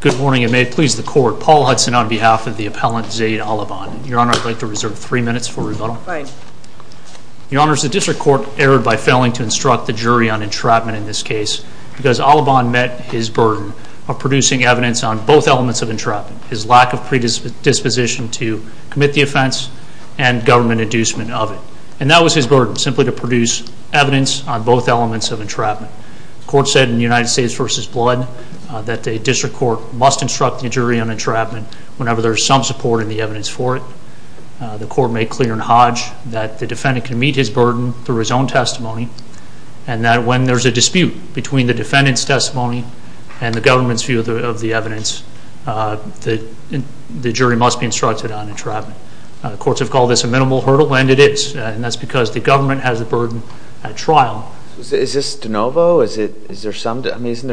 Good morning and may it please the court, Paul Hudson on behalf of the appellant Zayd The District Court erred by failing to instruct the jury on entrapment in this case because Allebban met his burden of producing evidence on both elements of entrapment, his lack of predisposition to commit the offense and government inducement of it. And that was his burden, simply to produce evidence on both elements of entrapment. The court said in United States v. Blood that the District Court must instruct the jury on entrapment whenever there is some support in the evidence for it. The court made clear in Hodge that the defendant can meet his burden through his own testimony. And that when there is a dispute between the defendant's testimony and the government's view of the evidence, the jury must be instructed on entrapment. The courts have called this a minimal hurdle and it is, and that's because the government has a burden at trial. Is this de novo? Isn't there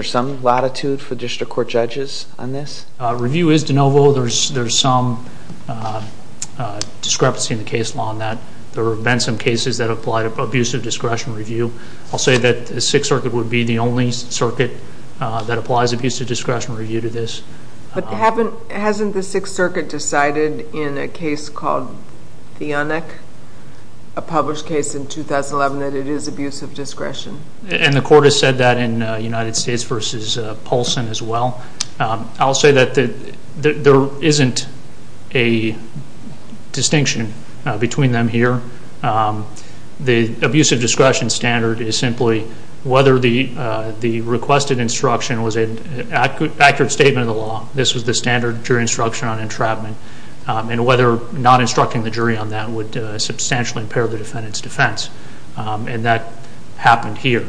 some latitude for District Court judges on this? Review is de novo. There is some discrepancy in the case law on that. There have been some cases that apply to abusive discretion review. I'll say that the Sixth Circuit would be the only circuit that applies abusive discretion review to this. But hasn't the Sixth Circuit decided in a case called Theonic, a published case in 2011, that it is abusive discretion? And the court has said that in United States v. Polson as well. I'll say that there isn't a distinction between them here. The abusive discretion standard is simply whether the requested instruction was an accurate statement of the law. This was the standard jury instruction on entrapment. And whether not instructing the jury on that would substantially impair the defendant's defense. And that happened here.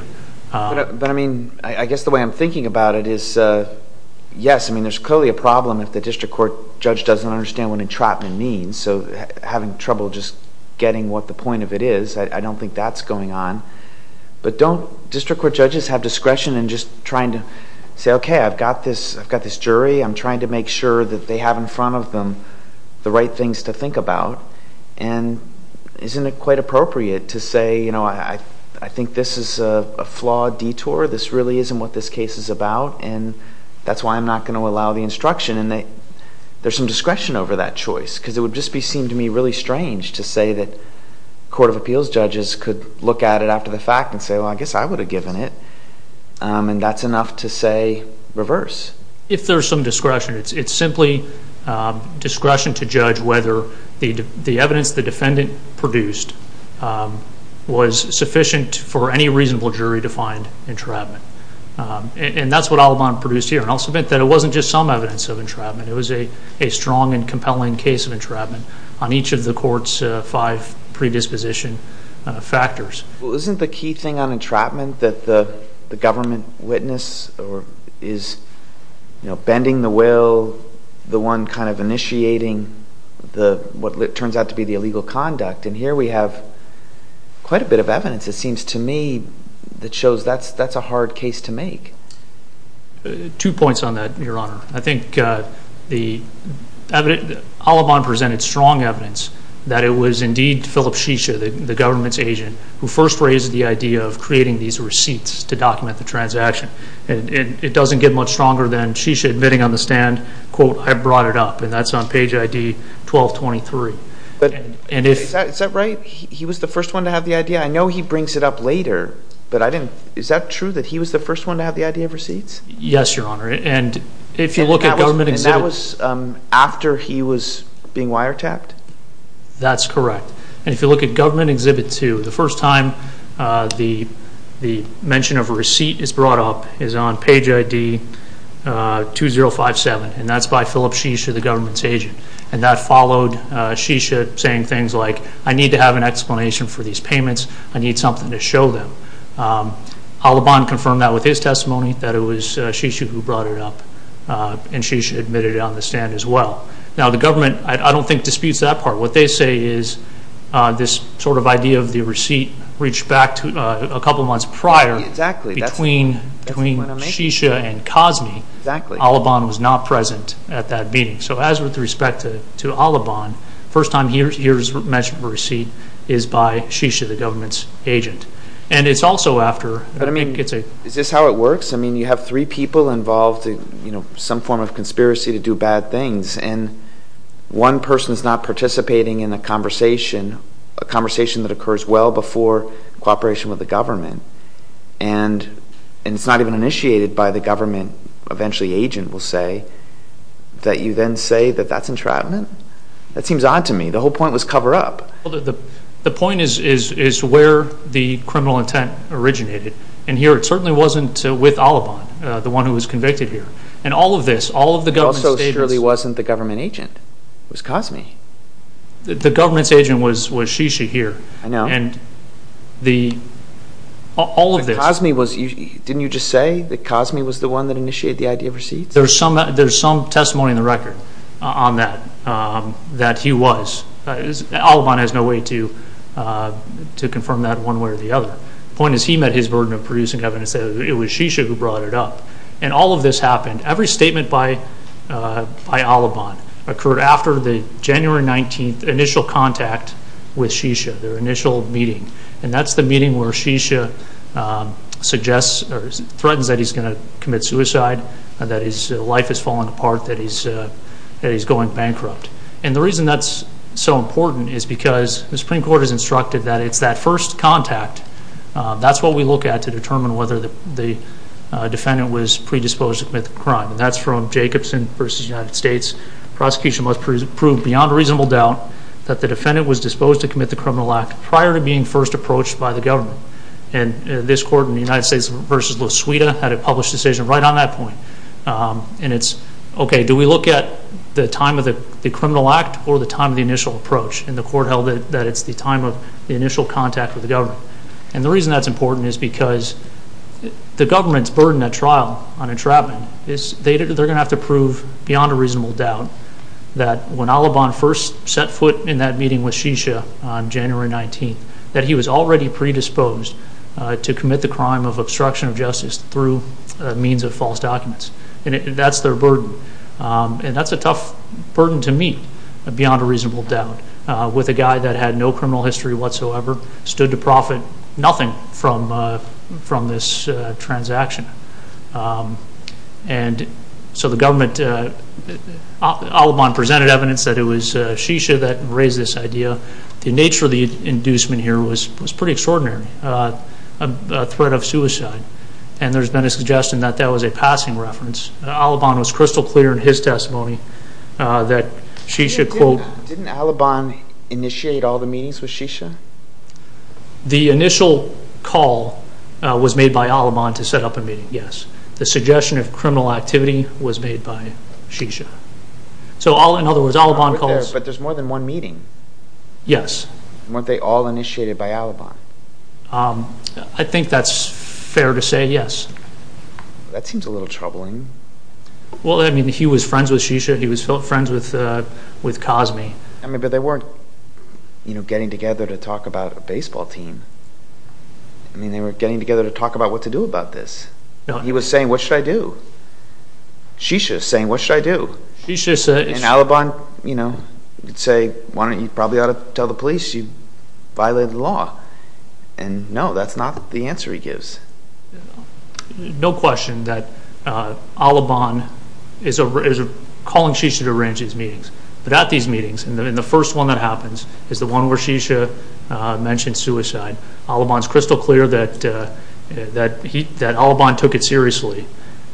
But I mean, I guess the way I'm thinking about it is, yes, I mean there's clearly a problem if the District Court judge doesn't understand what entrapment means. So having trouble just getting what the point of it is, I don't think that's going on. But don't District Court judges have discretion in just trying to say, okay, I've got this jury. I'm trying to make sure that they have in front of them the right things to think about. And isn't it quite appropriate to say, you know, I think this is a flawed detour. This really isn't what this case is about. And that's why I'm not going to allow the instruction. There's some discretion over that choice because it would just seem to me really strange to say that court of appeals judges could look at it after the fact and say, well, I guess I would have given it. And that's enough to say reverse. If there's some discretion, it's simply discretion to judge whether the evidence the defendant produced was sufficient for any reasonable jury-defined entrapment. And that's what Alibon produced here. And I'll submit that it wasn't just some evidence of entrapment. It was a strong and compelling case of entrapment on each of the court's five predisposition factors. Isn't the key thing on entrapment that the government witness is bending the will, the one kind of initiating what turns out to be the illegal conduct? And here we have quite a bit of evidence, it seems to me, that shows that's a hard case to make. Two points on that, Your Honor. I think Alibon presented strong evidence that it was indeed Philip Shisha, the government's agent, who first raised the idea of creating these receipts to document the transaction. And it doesn't get much stronger than Shisha admitting on the stand, quote, I brought it up. And that's on page ID 1223. He was the first one to have the idea. I know he brings it up later, but is that true that he was the first one to have the idea of receipts? Yes, Your Honor. And that was after he was being wiretapped? That's correct. And if you look at Government Exhibit 2, the first time the mention of a receipt is brought up is on page ID 2057. And that followed Shisha saying things like, I need to have an explanation for these payments. I need something to show them. Alibon confirmed that with his testimony, that it was Shisha who brought it up. And Shisha admitted it on the stand as well. Now, the government, I don't think, disputes that part. What they say is this sort of idea of the receipt reached back a couple of months prior between Shisha and Cosme. Alibon was not present at that meeting. So as with respect to Alibon, the first time he hears mention of a receipt is by Shisha, the government's agent. Is this how it works? I mean, you have three people involved in some form of conspiracy to do bad things. And one person is not participating in a conversation, a conversation that occurs well before cooperation with the government. And it's not even initiated by the government. Eventually the agent will say that you then say that that's entrapment. That seems odd to me. The whole point was cover up. The point is where the criminal intent originated. And here it certainly wasn't with Alibon, the one who was convicted here. And all of this, all of the government's statements. It also surely wasn't the government agent. It was Cosme. The government's agent was Shisha here. I know. And all of this. But Cosme was, didn't you just say that Cosme was the one that initiated the idea of receipts? There's some testimony in the record on that, that he was. Alibon has no way to confirm that one way or the other. The point is he met his burden of producing evidence. It was Shisha who brought it up. And all of this happened. Every statement by Alibon occurred after the January 19th initial contact with Shisha, their initial meeting. And that's the meeting where Shisha suggests or threatens that he's going to commit suicide, that his life is falling apart, that he's going bankrupt. And the reason that's so important is because the Supreme Court has instructed that it's that first contact. That's what we look at to determine whether the defendant was predisposed to commit the crime. And that's from Jacobson v. United States. Prosecution must prove beyond reasonable doubt that the defendant was disposed to commit the criminal act prior to being first approached by the government. And this court in the United States v. La Suida had a published decision right on that point. And it's, okay, do we look at the time of the criminal act or the time of the initial approach? And the court held that it's the time of the initial contact with the government. And the reason that's important is because the government's burden at trial on entrapment is they're going to have to prove beyond a reasonable doubt that when Alibon first set foot in that meeting with Shisha on January 19th, that he was already predisposed to commit the crime of obstruction of justice through means of false documents. And that's their burden. And that's a tough burden to meet beyond a reasonable doubt with a guy that had no criminal history whatsoever, stood to profit nothing from this transaction. And so the government, Alibon presented evidence that it was Shisha that raised this idea. The nature of the inducement here was pretty extraordinary, a threat of suicide. And there's been a suggestion that that was a passing reference. Alibon was crystal clear in his testimony that Shisha, quote. Didn't Alibon initiate all the meetings with Shisha? The initial call was made by Alibon to set up a meeting, yes. The suggestion of criminal activity was made by Shisha. So in other words, Alibon calls. But there's more than one meeting. Yes. Weren't they all initiated by Alibon? I think that's fair to say, yes. That seems a little troubling. Well, I mean, he was friends with Shisha. He was friends with Cosme. I mean, but they weren't, you know, getting together to talk about a baseball team. I mean, they were getting together to talk about what to do about this. He was saying, what should I do? Shisha is saying, what should I do? And Alibon, you know, would say, why don't you probably ought to tell the police you violated the law. And, no, that's not the answer he gives. No question that Alibon is calling Shisha to arrange these meetings. But at these meetings, and the first one that happens is the one where Shisha mentioned suicide. Alibon is crystal clear that Alibon took it seriously.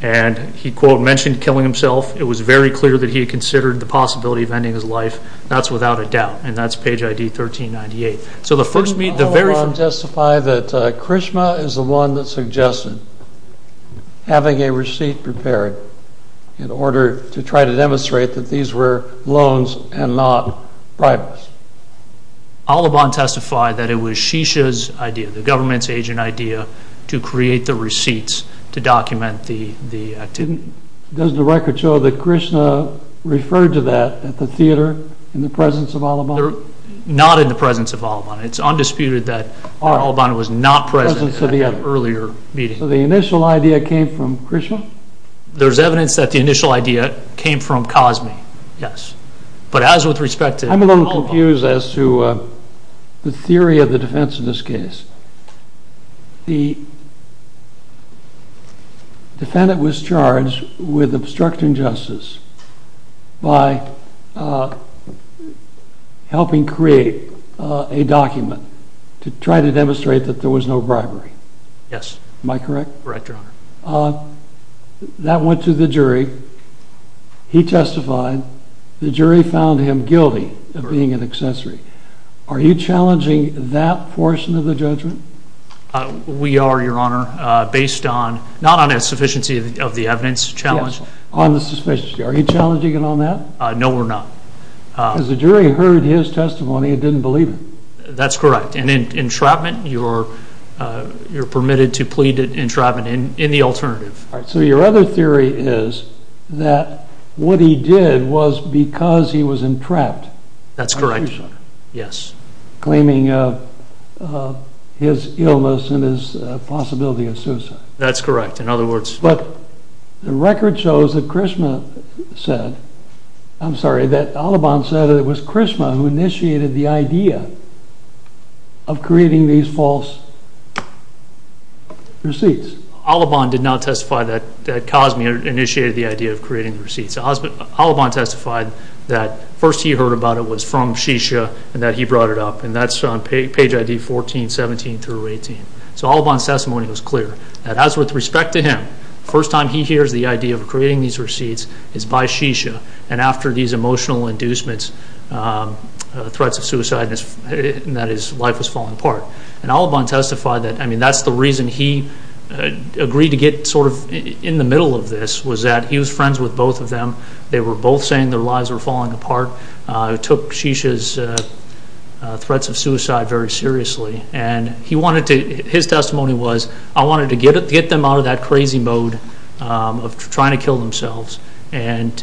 And he, quote, mentioned killing himself. It was very clear that he had considered the possibility of ending his life. That's without a doubt. And that's page ID 1398. Doesn't Alibon testify that Krishna is the one that suggested having a receipt prepared in order to try to demonstrate that these were loans and not bribes? Alibon testified that it was Shisha's idea, the government's agent idea, to create the receipts to document the activity. Doesn't the record show that Krishna referred to that at the theater in the presence of Alibon? Not in the presence of Alibon. It's undisputed that Alibon was not present at an earlier meeting. So the initial idea came from Krishna? There's evidence that the initial idea came from Cosme, yes. But as with respect to Alibon. I'm a little confused as to the theory of the defense of this case. The defendant was charged with obstructing justice by helping create a document to try to demonstrate that there was no bribery. Yes. Am I correct? Correct, Your Honor. That went to the jury. He testified. The jury found him guilty of being an accessory. Are you challenging that portion of the judgment? We are, Your Honor. Based on, not on a sufficiency of the evidence challenge. On the sufficiency. Are you challenging it on that? No, we're not. Because the jury heard his testimony and didn't believe him. That's correct. And in entrapment, you're permitted to plead entrapment in the alternative. All right. So your other theory is that what he did was because he was entrapped. That's correct. Yes. Claiming his illness and his possibility of suicide. That's correct. In other words. But the record shows that Krishna said, I'm sorry, that Alibon said it was Krishna who initiated the idea of creating these false receipts. Alibon did not testify that Cosme initiated the idea of creating the receipts. Alibon testified that first he heard about it was from Shisha and that he brought it up. And that's on page ID 1417 through 18. So Alibon's testimony was clear. That as with respect to him, first time he hears the idea of creating these receipts is by Shisha. And after these emotional inducements, threats of suicide, and that his life was falling apart. And Alibon testified that, I mean, that's the reason he agreed to get sort of in the middle of this. He was friends with both of them. They were both saying their lives were falling apart. It took Shisha's threats of suicide very seriously. And his testimony was, I wanted to get them out of that crazy mode of trying to kill themselves and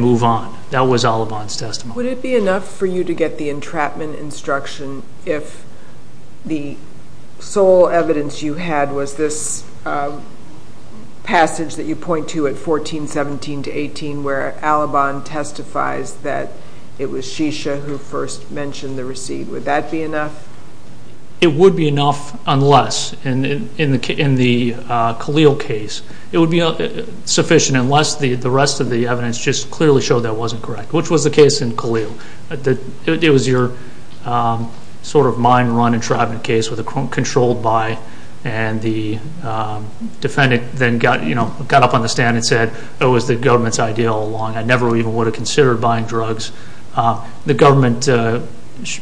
move on. That was Alibon's testimony. Would it be enough for you to get the entrapment instruction if the sole evidence you had was this passage that you point to at 1417 to 18 where Alibon testifies that it was Shisha who first mentioned the receipt. Would that be enough? It would be enough unless, in the Khalil case, it would be sufficient unless the rest of the evidence just clearly showed that wasn't correct. Which was the case in Khalil. It was your sort of mind-run entrapment case with a controlled buy. And the defendant then got up on the stand and said, oh, it was the government's idea all along. I never even would have considered buying drugs. The government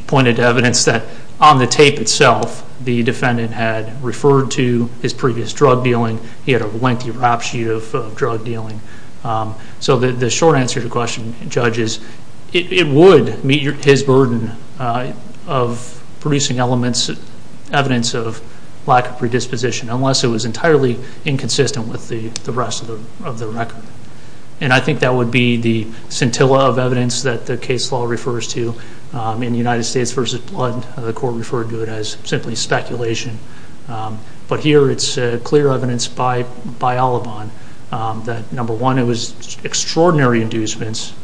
pointed to evidence that on the tape itself, the defendant had referred to his previous drug dealing. He had a lengthy rap sheet of drug dealing. So the short answer to the question, Judge, is it would meet his burden of producing evidence of lack of predisposition unless it was entirely inconsistent with the rest of the record. And I think that would be the scintilla of evidence that the case law refers to. In United States v. Blood, the court referred to it as simply speculation. But here it's clear evidence by Alaban that, number one, it was extraordinary inducements.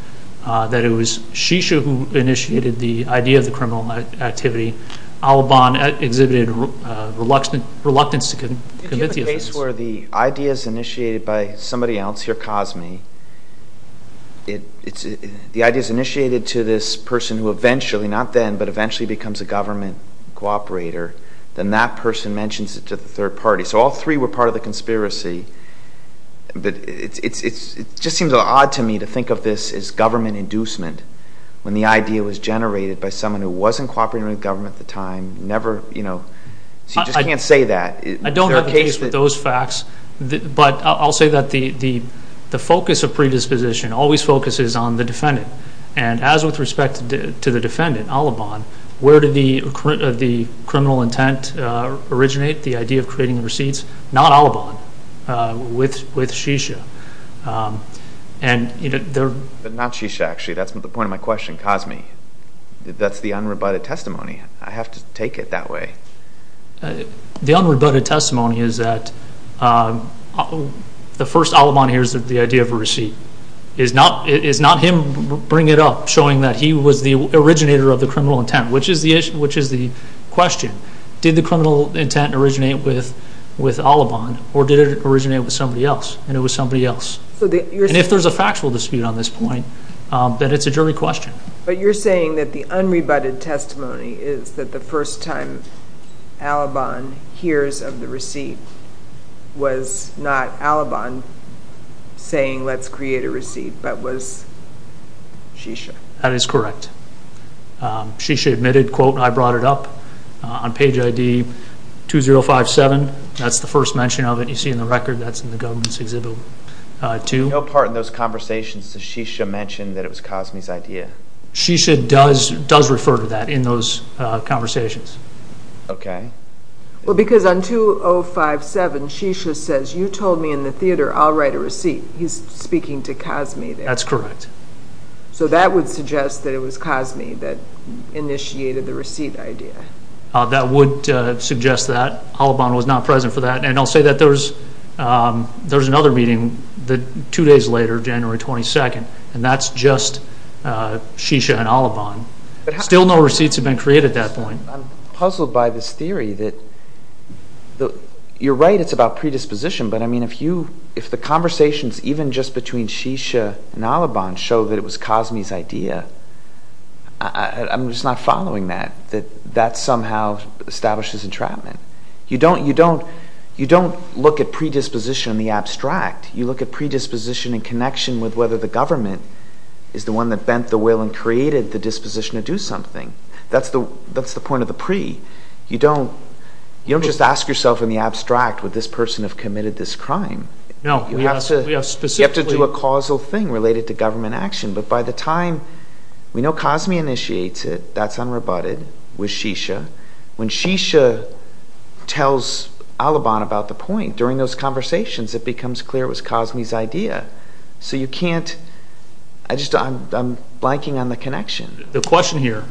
That it was Shisha who initiated the idea of the criminal activity. Alaban exhibited reluctance to commit the offense. If you have a case where the idea is initiated by somebody else, here, Cosme, the idea is initiated to this person who eventually, not then, but eventually becomes a government cooperator, then that person mentions it to the third party. So all three were part of the conspiracy. But it just seems odd to me to think of this as government inducement when the idea was generated by someone who wasn't cooperating with the government at the time, never, you know, so you just can't say that. I don't have a case with those facts. But I'll say that the focus of predisposition always focuses on the defendant. And as with respect to the defendant, Alaban, where did the criminal intent originate, the idea of creating the receipts? Not Alaban. With Shisha. But not Shisha, actually. That's the point of my question, Cosme. That's the unrebutted testimony. I have to take it that way. The unrebutted testimony is that the first Alaban hears the idea of a receipt. It's not him bringing it up, showing that he was the originator of the criminal intent, which is the question. Did the criminal intent originate with Alaban, or did it originate with somebody else, and it was somebody else? And if there's a factual dispute on this point, then it's a jury question. But you're saying that the unrebutted testimony is that the first time Alaban hears of the receipt was not Alaban saying, let's create a receipt, but was Shisha? That is correct. Shisha admitted, quote, I brought it up on page ID 2057. That's the first mention of it you see in the record. That's in the government's Exhibit 2. No part in those conversations does Shisha mention that it was Cosme's idea? Shisha does refer to that in those conversations. Okay. Well, because on 2057, Shisha says, you told me in the theater I'll write a receipt. He's speaking to Cosme there. That's correct. So that would suggest that it was Cosme that initiated the receipt idea. That would suggest that. Alaban was not present for that. And I'll say that there's another meeting two days later, January 22nd, and that's just Shisha and Alaban. Still no receipts have been created at that point. I'm puzzled by this theory that you're right, it's about predisposition, but, I mean, if the conversations even just between Shisha and Alaban show that it was Cosme's idea, I'm just not following that, that that somehow establishes entrapment. You don't look at predisposition in the abstract. You look at predisposition in connection with whether the government is the one that bent the will and created the disposition to do something. That's the point of the pre. You don't just ask yourself in the abstract, would this person have committed this crime? No. You have to do a causal thing related to government action, but by the time we know Cosme initiates it, that's unrebutted with Shisha. When Shisha tells Alaban about the point during those conversations, it becomes clear it was Cosme's idea. So you can't, I'm blanking on the connection. The question here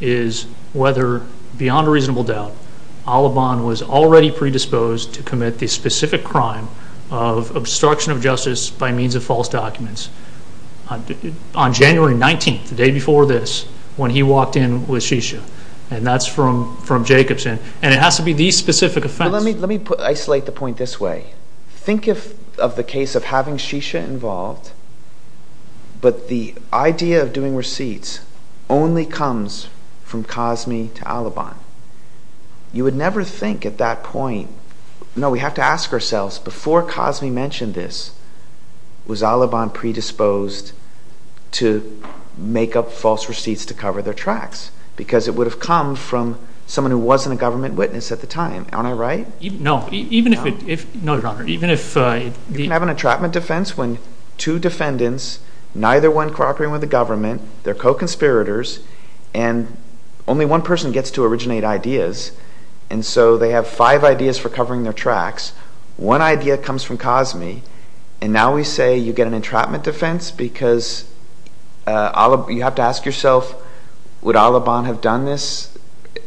is whether, beyond a reasonable doubt, Alaban was already predisposed to commit the specific crime of obstruction of justice by means of false documents on January 19th, the day before this, when he walked in with Shisha, and that's from Jacobson, and it has to be the specific offense. Let me isolate the point this way. Think of the case of having Shisha involved, but the idea of doing receipts only comes from Cosme to Alaban. You would never think at that point, no, we have to ask ourselves, before Cosme mentioned this, was Alaban predisposed to make up false receipts to cover their tracks? Because it would have come from someone who wasn't a government witness at the time. Aren't I right? No. No, Your Honor. You can have an entrapment defense when two defendants, neither one cooperating with the government, they're co-conspirators, and only one person gets to originate ideas, and so they have five ideas for covering their tracks. One idea comes from Cosme, and now we say you get an entrapment defense because you have to ask yourself, would Alaban have done this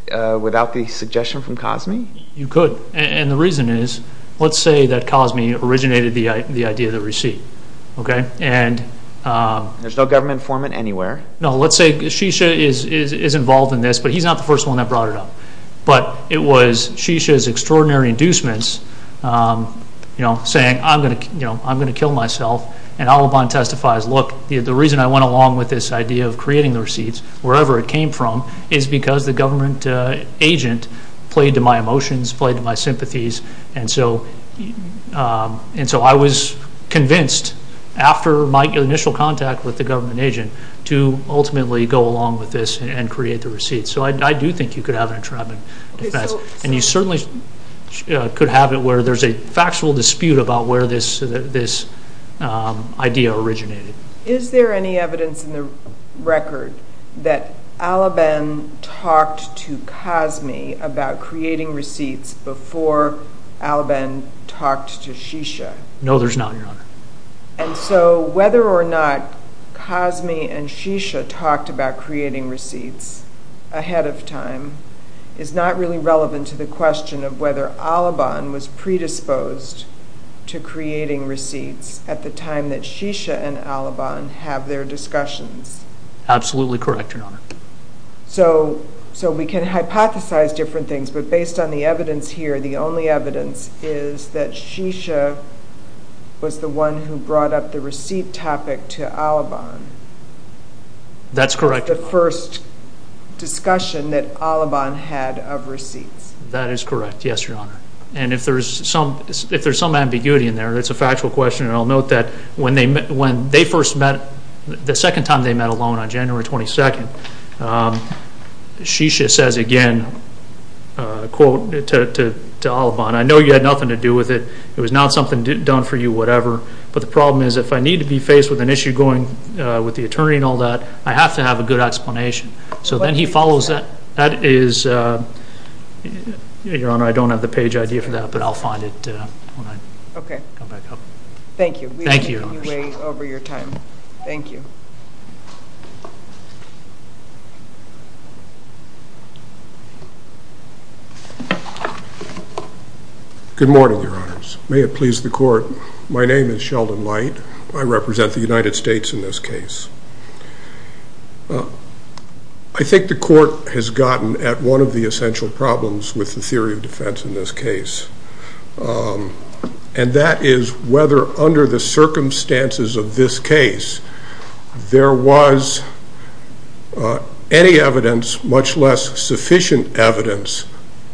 without the suggestion from Cosme? You could. And the reason is, let's say that Cosme originated the idea of the receipt. There's no government informant anywhere. No, let's say Shisha is involved in this, but he's not the first one that brought it up. But it was Shisha's extraordinary inducements saying, I'm going to kill myself, and Alaban testifies, look, the reason I went along with this idea of creating the receipts, wherever it came from, is because the government agent played to my emotions, played to my sympathies, and so I was convinced, after my initial contact with the government agent, to ultimately go along with this and create the receipt. So I do think you could have an entrapment defense, and you certainly could have it where there's a factual dispute about where this idea originated. Is there any evidence in the record that Alaban talked to Cosme about creating receipts before Alaban talked to Shisha? No, there's not, Your Honor. And so whether or not Cosme and Shisha talked about creating receipts ahead of time is not really relevant to the question of whether Alaban was predisposed to creating receipts at the time that Shisha and Alaban have their discussions. Absolutely correct, Your Honor. So we can hypothesize different things, but based on the evidence here, the only evidence is that Shisha was the one who brought up the receipt topic to Alaban. That's correct. It was the first discussion that Alaban had of receipts. That is correct, yes, Your Honor. And if there's some ambiguity in there, it's a factual question, and I'll note that when they first met, the second time they met alone on January 22nd, Shisha says again, quote, to Alaban, I know you had nothing to do with it, it was not something done for you, whatever, but the problem is if I need to be faced with an issue going with the attorney and all that, I have to have a good explanation. So then he follows that. Your Honor, I don't have the page idea for that, but I'll find it when I come back up. Thank you. Thank you, Your Honor. We are taking you way over your time. Thank you. Good morning, Your Honors. May it please the Court, my name is Sheldon Light. I represent the United States in this case. I think the Court has gotten at one of the essential problems with the theory of defense in this case, and that is whether under the circumstances of this case, there was any evidence, much less sufficient evidence,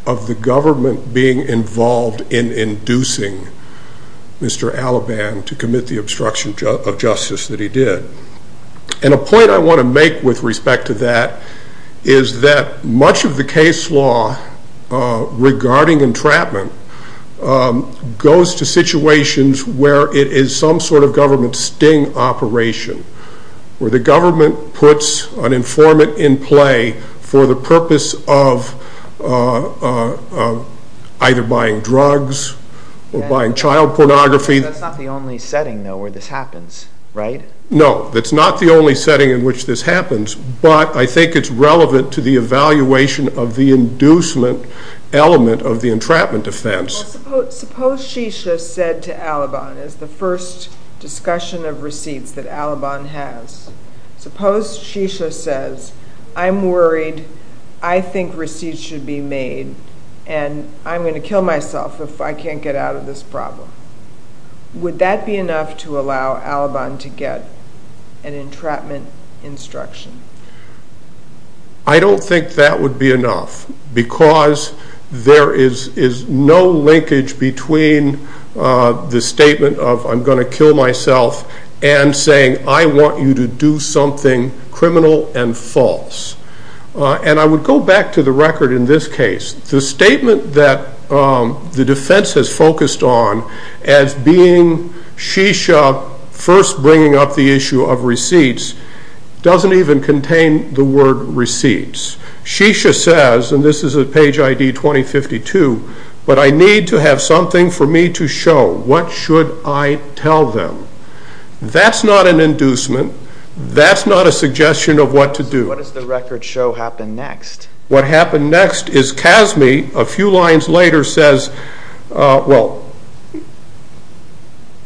of the government being involved in inducing Mr. Alaban to commit the obstruction of justice that he did. And a point I want to make with respect to that is that much of the case law regarding entrapment goes to situations where it is some sort of government sting operation, where the government puts an informant in play for the purpose of either buying drugs or buying child pornography. That's not the only setting, though, where this happens, right? No, that's not the only setting in which this happens, but I think it's relevant to the evaluation of the inducement element of the entrapment defense. Suppose Shisha said to Alaban, as the first discussion of receipts that Alaban has, suppose Shisha says, I'm worried, I think receipts should be made, and I'm going to kill myself if I can't get out of this problem. Would that be enough to allow Alaban to get an entrapment instruction? I don't think that would be enough because there is no linkage between the statement of I'm going to kill myself and saying I want you to do something criminal and false. And I would go back to the record in this case. The statement that the defense has focused on as being Shisha first bringing up the issue of receipts doesn't even contain the word receipts. Shisha says, and this is at page ID 2052, but I need to have something for me to show. What should I tell them? That's not an inducement. That's not a suggestion of what to do. What does the record show happen next? What happened next is CASME a few lines later says, well,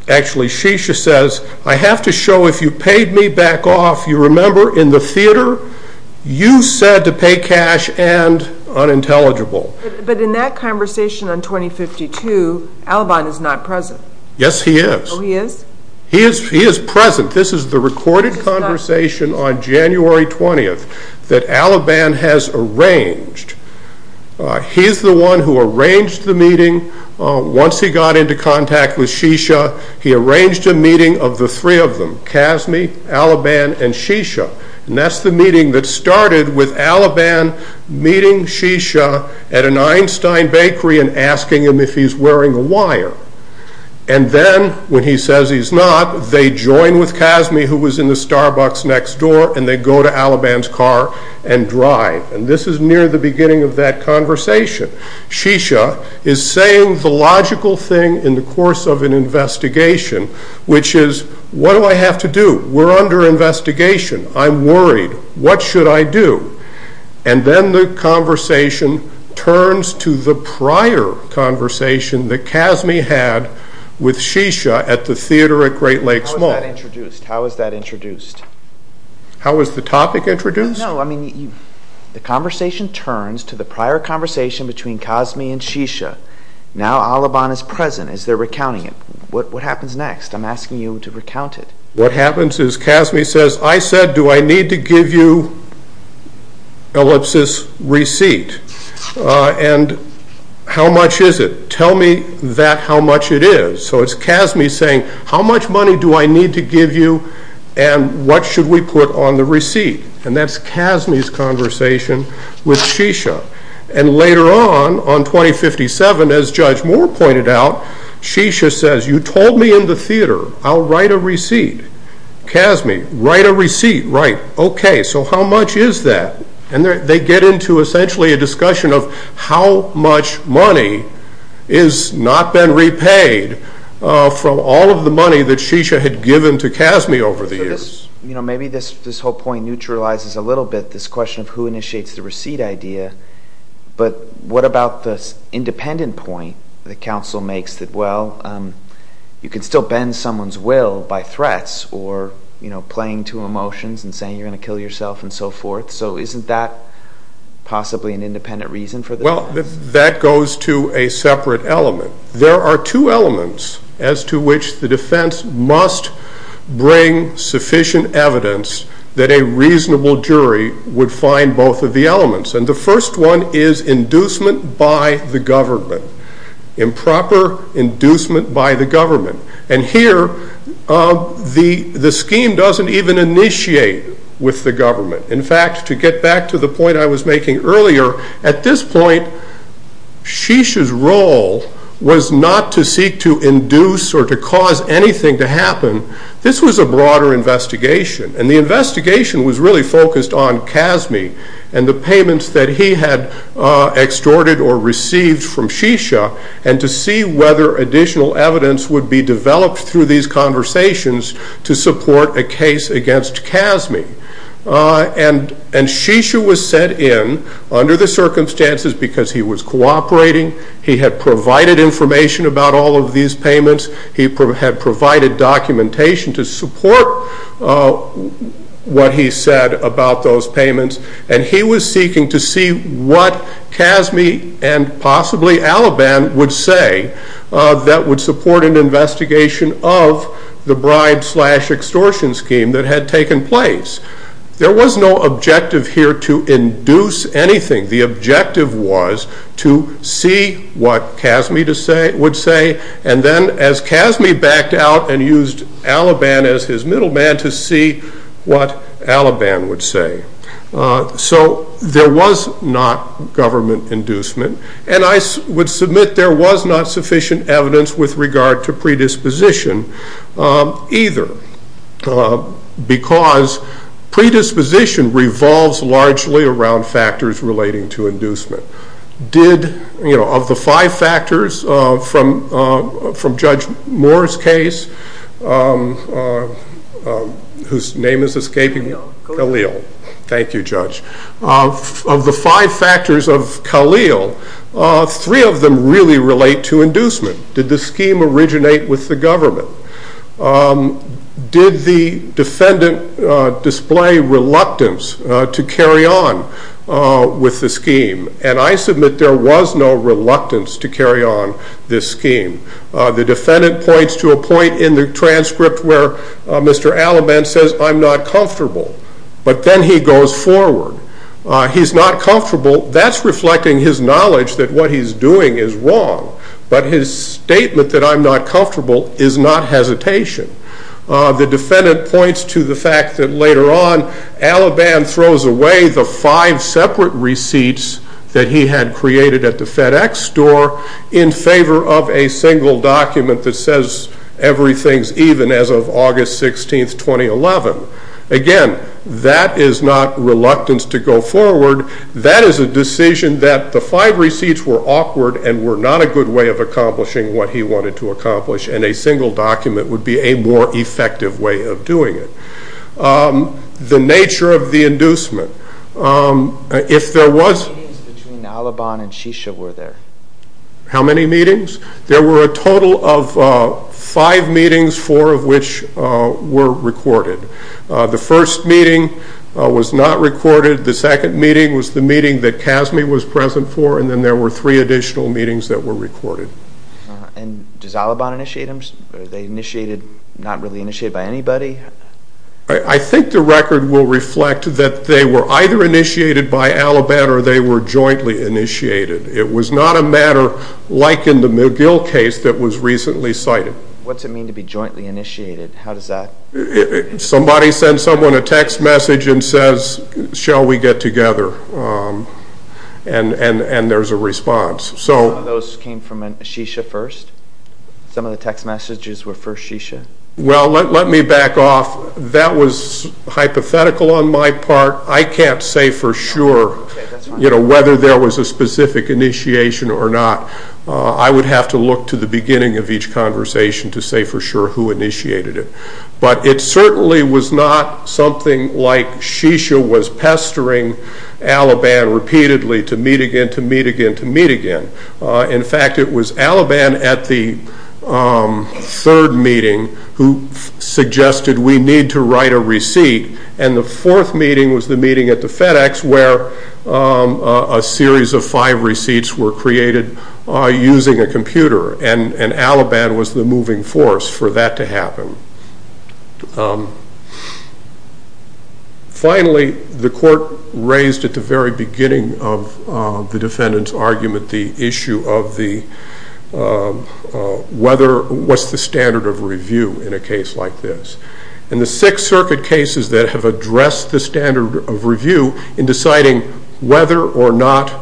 actually Shisha says, I have to show if you paid me back off, you remember in the theater, you said to pay cash and unintelligible. But in that conversation on 2052, Alaban is not present. Yes, he is. Oh, he is? He is present. This is the recorded conversation on January 20th that Alaban has arranged. He's the one who arranged the meeting. Once he got into contact with Shisha, he arranged a meeting of the three of them, CASME, Alaban, and Shisha. And that's the meeting that started with Alaban meeting Shisha at an Einstein bakery and asking him if he's wearing a wire. And then, when he says he's not, they join with CASME, who was in the Starbucks next door, and they go to Alaban's car and drive. And this is near the beginning of that conversation. Shisha is saying the logical thing in the course of an investigation, which is, what do I have to do? We're under investigation. I'm worried. What should I do? And then the conversation turns to the prior conversation that CASME had with Shisha at the theater at Great Lakes Mall. How is that introduced? How is the topic introduced? No, I mean, the conversation turns to the prior conversation between CASME and Shisha. Now, Alaban is present as they're recounting it. What happens next? I'm asking you to recount it. What happens is CASME says, I said, do I need to give you Ellipsis receipt? And how much is it? Tell me that how much it is. So it's CASME saying, how much money do I need to give you and what should we put on the receipt? And later on, on 2057, as Judge Moore pointed out, Shisha says, you told me in the theater I'll write a receipt. CASME, write a receipt. Right. Okay. So how much is that? And they get into essentially a discussion of how much money has not been repaid from all of the money that Shisha had given to CASME over the years. You know, maybe this whole point neutralizes a little bit this question of who initiates the receipt idea, but what about this independent point that counsel makes that, well, you can still bend someone's will by threats or, you know, playing to emotions and saying you're going to kill yourself and so forth. So isn't that possibly an independent reason for the defense? Well, that goes to a separate element. There are two elements as to which the defense must bring sufficient evidence that a reasonable jury would find both of the elements. And the first one is inducement by the government, improper inducement by the government. And here the scheme doesn't even initiate with the government. In fact, to get back to the point I was making earlier, at this point Shisha's role was not to seek to induce or to cause anything to happen. This was a broader investigation. And the investigation was really focused on CASME and the payments that he had extorted or received from Shisha and to see whether additional evidence would be developed through these conversations to support a case against CASME. And Shisha was sent in under the circumstances because he was cooperating. He had provided information about all of these payments. He had provided documentation to support what he said about those payments. And he was seeking to see what CASME and possibly Alabam would say that would support an investigation of the bribe slash extortion scheme that had taken place. There was no objective here to induce anything. The objective was to see what CASME would say. And then as CASME backed out and used Alabam as his middle man to see what Alabam would say. So there was not government inducement. And I would submit there was not sufficient evidence with regard to predisposition either. Because predisposition revolves largely around factors relating to inducement. Of the five factors from Judge Moore's case, whose name is escaping me? Khalil. Thank you, Judge. Of the five factors of Khalil, three of them really relate to inducement. Did the scheme originate with the government? Did the defendant display reluctance to carry on with the scheme? And I submit there was no reluctance to carry on this scheme. The defendant points to a point in the transcript where Mr. Alabam says, I'm not comfortable. But then he goes forward. He's not comfortable. That's reflecting his knowledge that what he's doing is wrong. But his statement that I'm not comfortable is not hesitation. The defendant points to the fact that later on Alabam throws away the five separate receipts that he had created at the FedEx store in favor of a single document that says everything's even as of August 16, 2011. Again, that is not reluctance to go forward. That is a decision that the five receipts were awkward and were not a good way of accomplishing what he wanted to accomplish. And a single document would be a more effective way of doing it. The nature of the inducement. If there was... How many meetings between Alabam and Shisha were there? How many meetings? There were a total of five meetings, four of which were recorded. The first meeting was not recorded. The second meeting was the meeting that CASME was present for. And then there were three additional meetings that were recorded. And does Alabam initiate them? Are they initiated, not really initiated by anybody? I think the record will reflect that they were either initiated by Alabam or they were jointly initiated. It was not a matter like in the McGill case that was recently cited. What's it mean to be jointly initiated? How does that... Somebody sends someone a text message and says, shall we get together? And there's a response. Some of those came from Shisha first? Some of the text messages were for Shisha? Well, let me back off. That was hypothetical on my part. I can't say for sure whether there was a specific initiation or not. I would have to look to the beginning of each conversation to say for sure who initiated it. But it certainly was not something like Shisha was pestering Alabam repeatedly to meet again, to meet again, to meet again. In fact, it was Alabam at the third meeting who suggested we need to write a receipt. And the fourth meeting was the meeting at the FedEx where a series of five receipts were created using a computer. And Alabam was the moving force for that to happen. Finally, the court raised at the very beginning of the defendant's argument the issue of whether... what's the standard of review in a case like this? And the Sixth Circuit cases that have addressed the standard of review in deciding whether or not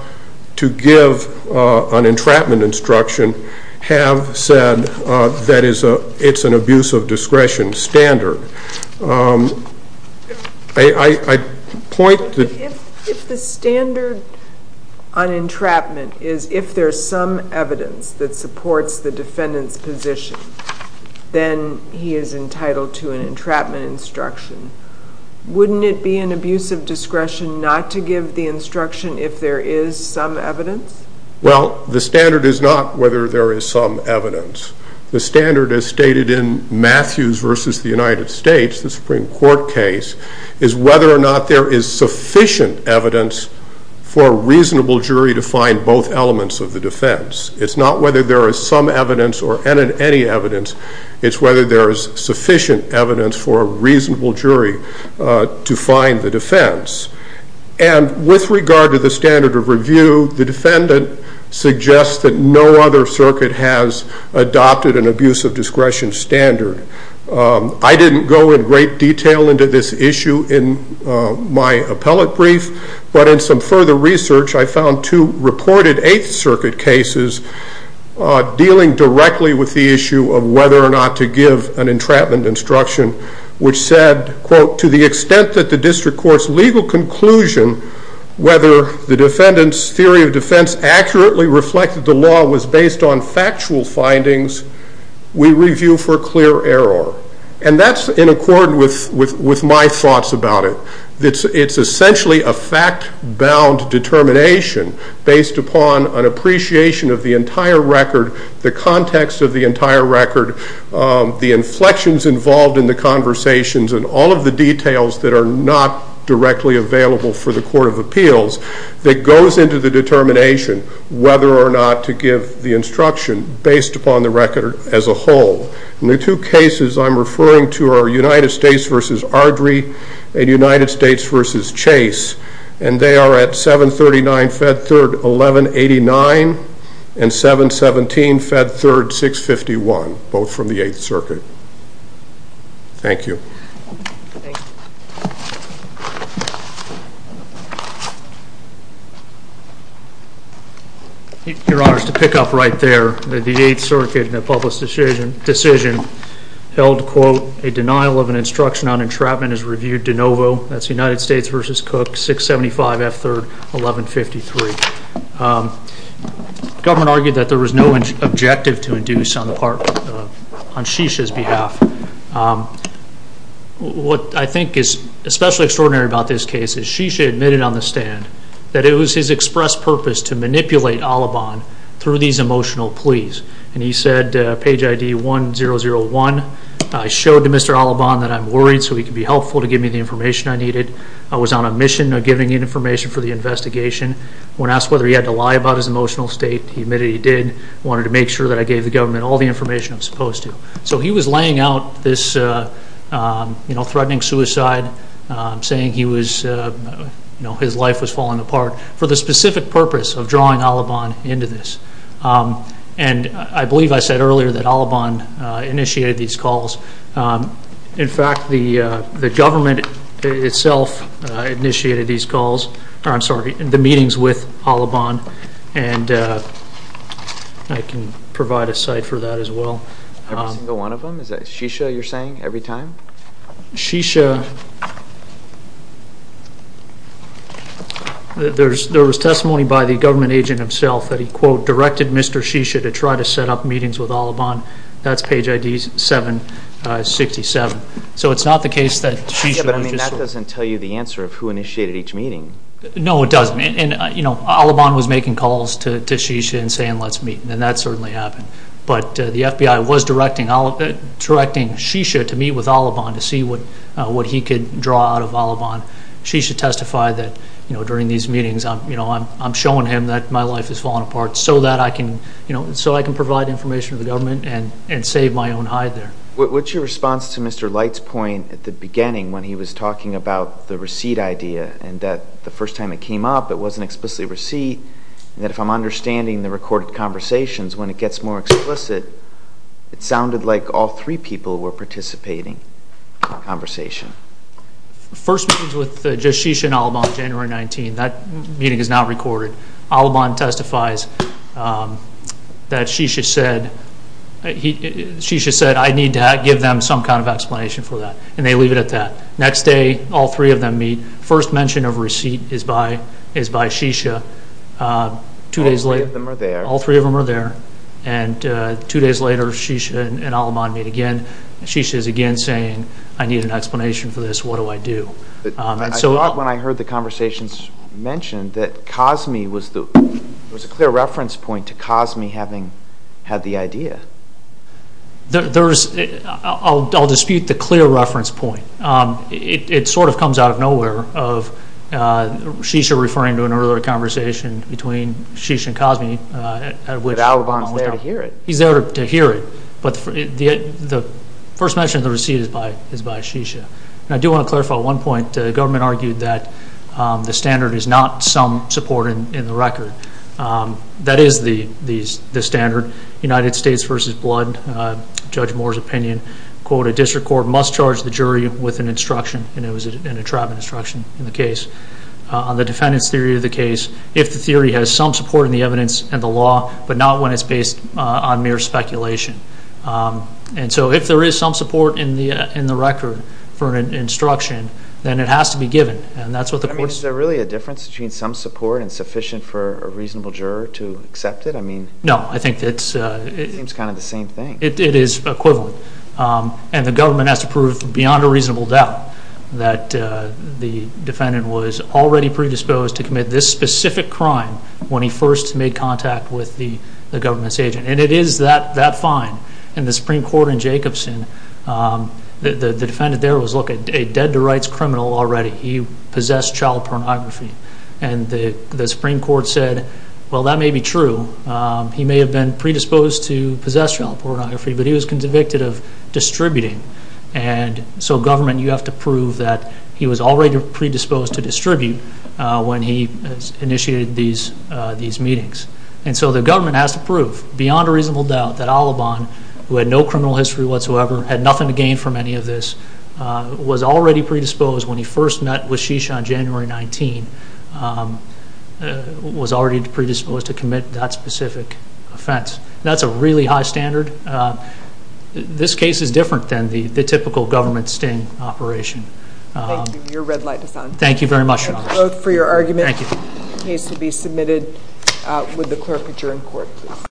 to give an entrapment instruction have said that it's an abuse of discretion standard. I point to... If the standard on entrapment is if there's some evidence that supports the defendant's position, then he is entitled to an entrapment instruction. Wouldn't it be an abuse of discretion not to give the instruction if there is some evidence? Well, the standard is not whether there is some evidence. The standard, as stated in Matthews v. The United States, the Supreme Court case, is whether or not there is sufficient evidence for a reasonable jury to find both elements of the defense. It's not whether there is some evidence or any evidence. It's whether there is sufficient evidence for a reasonable jury to find the defense. And with regard to the standard of review, the defendant suggests that no other circuit has adopted an abuse of discretion standard. I didn't go in great detail into this issue in my appellate brief, but in some further research I found two reported Eighth Circuit cases dealing directly with the issue of whether or not to give an entrapment instruction, which said, quote, to the extent that the district court's legal conclusion, whether the defendant's theory of defense accurately reflected the law was based on factual findings, we review for clear error. And that's in accord with my thoughts about it. It's essentially a fact-bound determination based upon an appreciation of the entire record, the context of the entire record, the inflections involved in the conversations, and all of the details that are not directly available for the Court of Appeals that goes into the determination whether or not to give the instruction based upon the record as a whole. And the two cases I'm referring to are United States v. Ardrey and United States v. Chase, and they are at 739 Fed Third 1189 and 717 Fed Third 651, both from the Eighth Circuit. Thank you. Your Honor, to pick up right there, the Eighth Circuit in a public decision held, quote, a denial of an instruction on entrapment is reviewed de novo. That's United States v. Cook 675 F Third 1153. The government argued that there was no objective to induce on Shisha's behalf. What I think is especially extraordinary about this case is Shisha admitted on the stand that it was his express purpose to manipulate Alaban through these emotional pleas, and he said, page ID 1001, I showed to Mr. Alaban that I'm worried so he could be helpful to give me the information I needed. I was on a mission of giving you information for the investigation. When asked whether he had to lie about his emotional state, he admitted he did. I wanted to make sure that I gave the government all the information I was supposed to. So he was laying out this, you know, threatening suicide, saying he was, you know, his life was falling apart for the specific purpose of drawing Alaban into this. And I believe I said earlier that Alaban initiated these calls. In fact, the government itself initiated these calls. I'm sorry, the meetings with Alaban, and I can provide a site for that as well. Every single one of them? Is that Shisha you're saying every time? Shisha, there was testimony by the government agent himself that he, quote, directed Mr. Shisha to try to set up meetings with Alaban. That's page ID 767. So it's not the case that Shisha was just sort of ---- Yeah, but, I mean, that doesn't tell you the answer of who initiated each meeting. No, it doesn't. And, you know, Alaban was making calls to Shisha and saying let's meet, and that certainly happened. But the FBI was directing Shisha to meet with Alaban to see what he could draw out of Alaban. Shisha testified that, you know, during these meetings, you know, I'm showing him that my life is falling apart so that I can, you know, so I can provide information to the government and save my own hide there. What's your response to Mr. Light's point at the beginning when he was talking about the receipt idea and that the first time it came up it wasn't explicitly a receipt, and that if I'm understanding the recorded conversations, when it gets more explicit, it sounded like all three people were participating in the conversation. The first meeting was with just Shisha and Alaban, January 19. That meeting is not recorded. Alaban testifies that Shisha said I need to give them some kind of explanation for that, and they leave it at that. Next day, all three of them meet. First mention of receipt is by Shisha. All three of them are there. All three of them are there. And two days later, Shisha and Alaban meet again. Shisha is again saying I need an explanation for this. What do I do? I thought when I heard the conversations mentioned that Cosme was the – there was a clear reference point to Cosme having had the idea. I'll dispute the clear reference point. It sort of comes out of nowhere of Shisha referring to an earlier conversation between Shisha and Cosme. But Alaban is there to hear it. He's there to hear it. But the first mention of the receipt is by Shisha. And I do want to clarify one point. The government argued that the standard is not some support in the record. That is the standard. United States v. Blood, Judge Moore's opinion, quote, a district court must charge the jury with an instruction, and it was a trap instruction in the case. On the defendant's theory of the case, if the theory has some support in the evidence and the law, but not when it's based on mere speculation. And so if there is some support in the record for an instruction, then it has to be given. And that's what the court said. Is there really a difference between some support and sufficient for a reasonable juror to accept it? No. It seems kind of the same thing. It is equivalent. And the government has to prove beyond a reasonable doubt that the defendant was already predisposed to commit this specific crime when he first made contact with the government's agent. And it is that fine. In the Supreme Court in Jacobson, the defendant there was a dead to rights criminal already. He possessed child pornography. And the Supreme Court said, well, that may be true. He may have been predisposed to possess child pornography, but he was convicted of distributing. And so government, you have to prove that he was already predisposed to distribute when he initiated these meetings. And so the government has to prove beyond a reasonable doubt that Alabon, who had no criminal history whatsoever, had nothing to gain from any of this, was already predisposed when he first met with Shisha on January 19, was already predisposed to commit that specific offense. That's a really high standard. This case is different than the typical government sting operation. Thank you. Your red light is on. Thank you very much, Your Honor. I vote for your argument. Thank you. The case will be submitted. Would the clerk put you in court, please?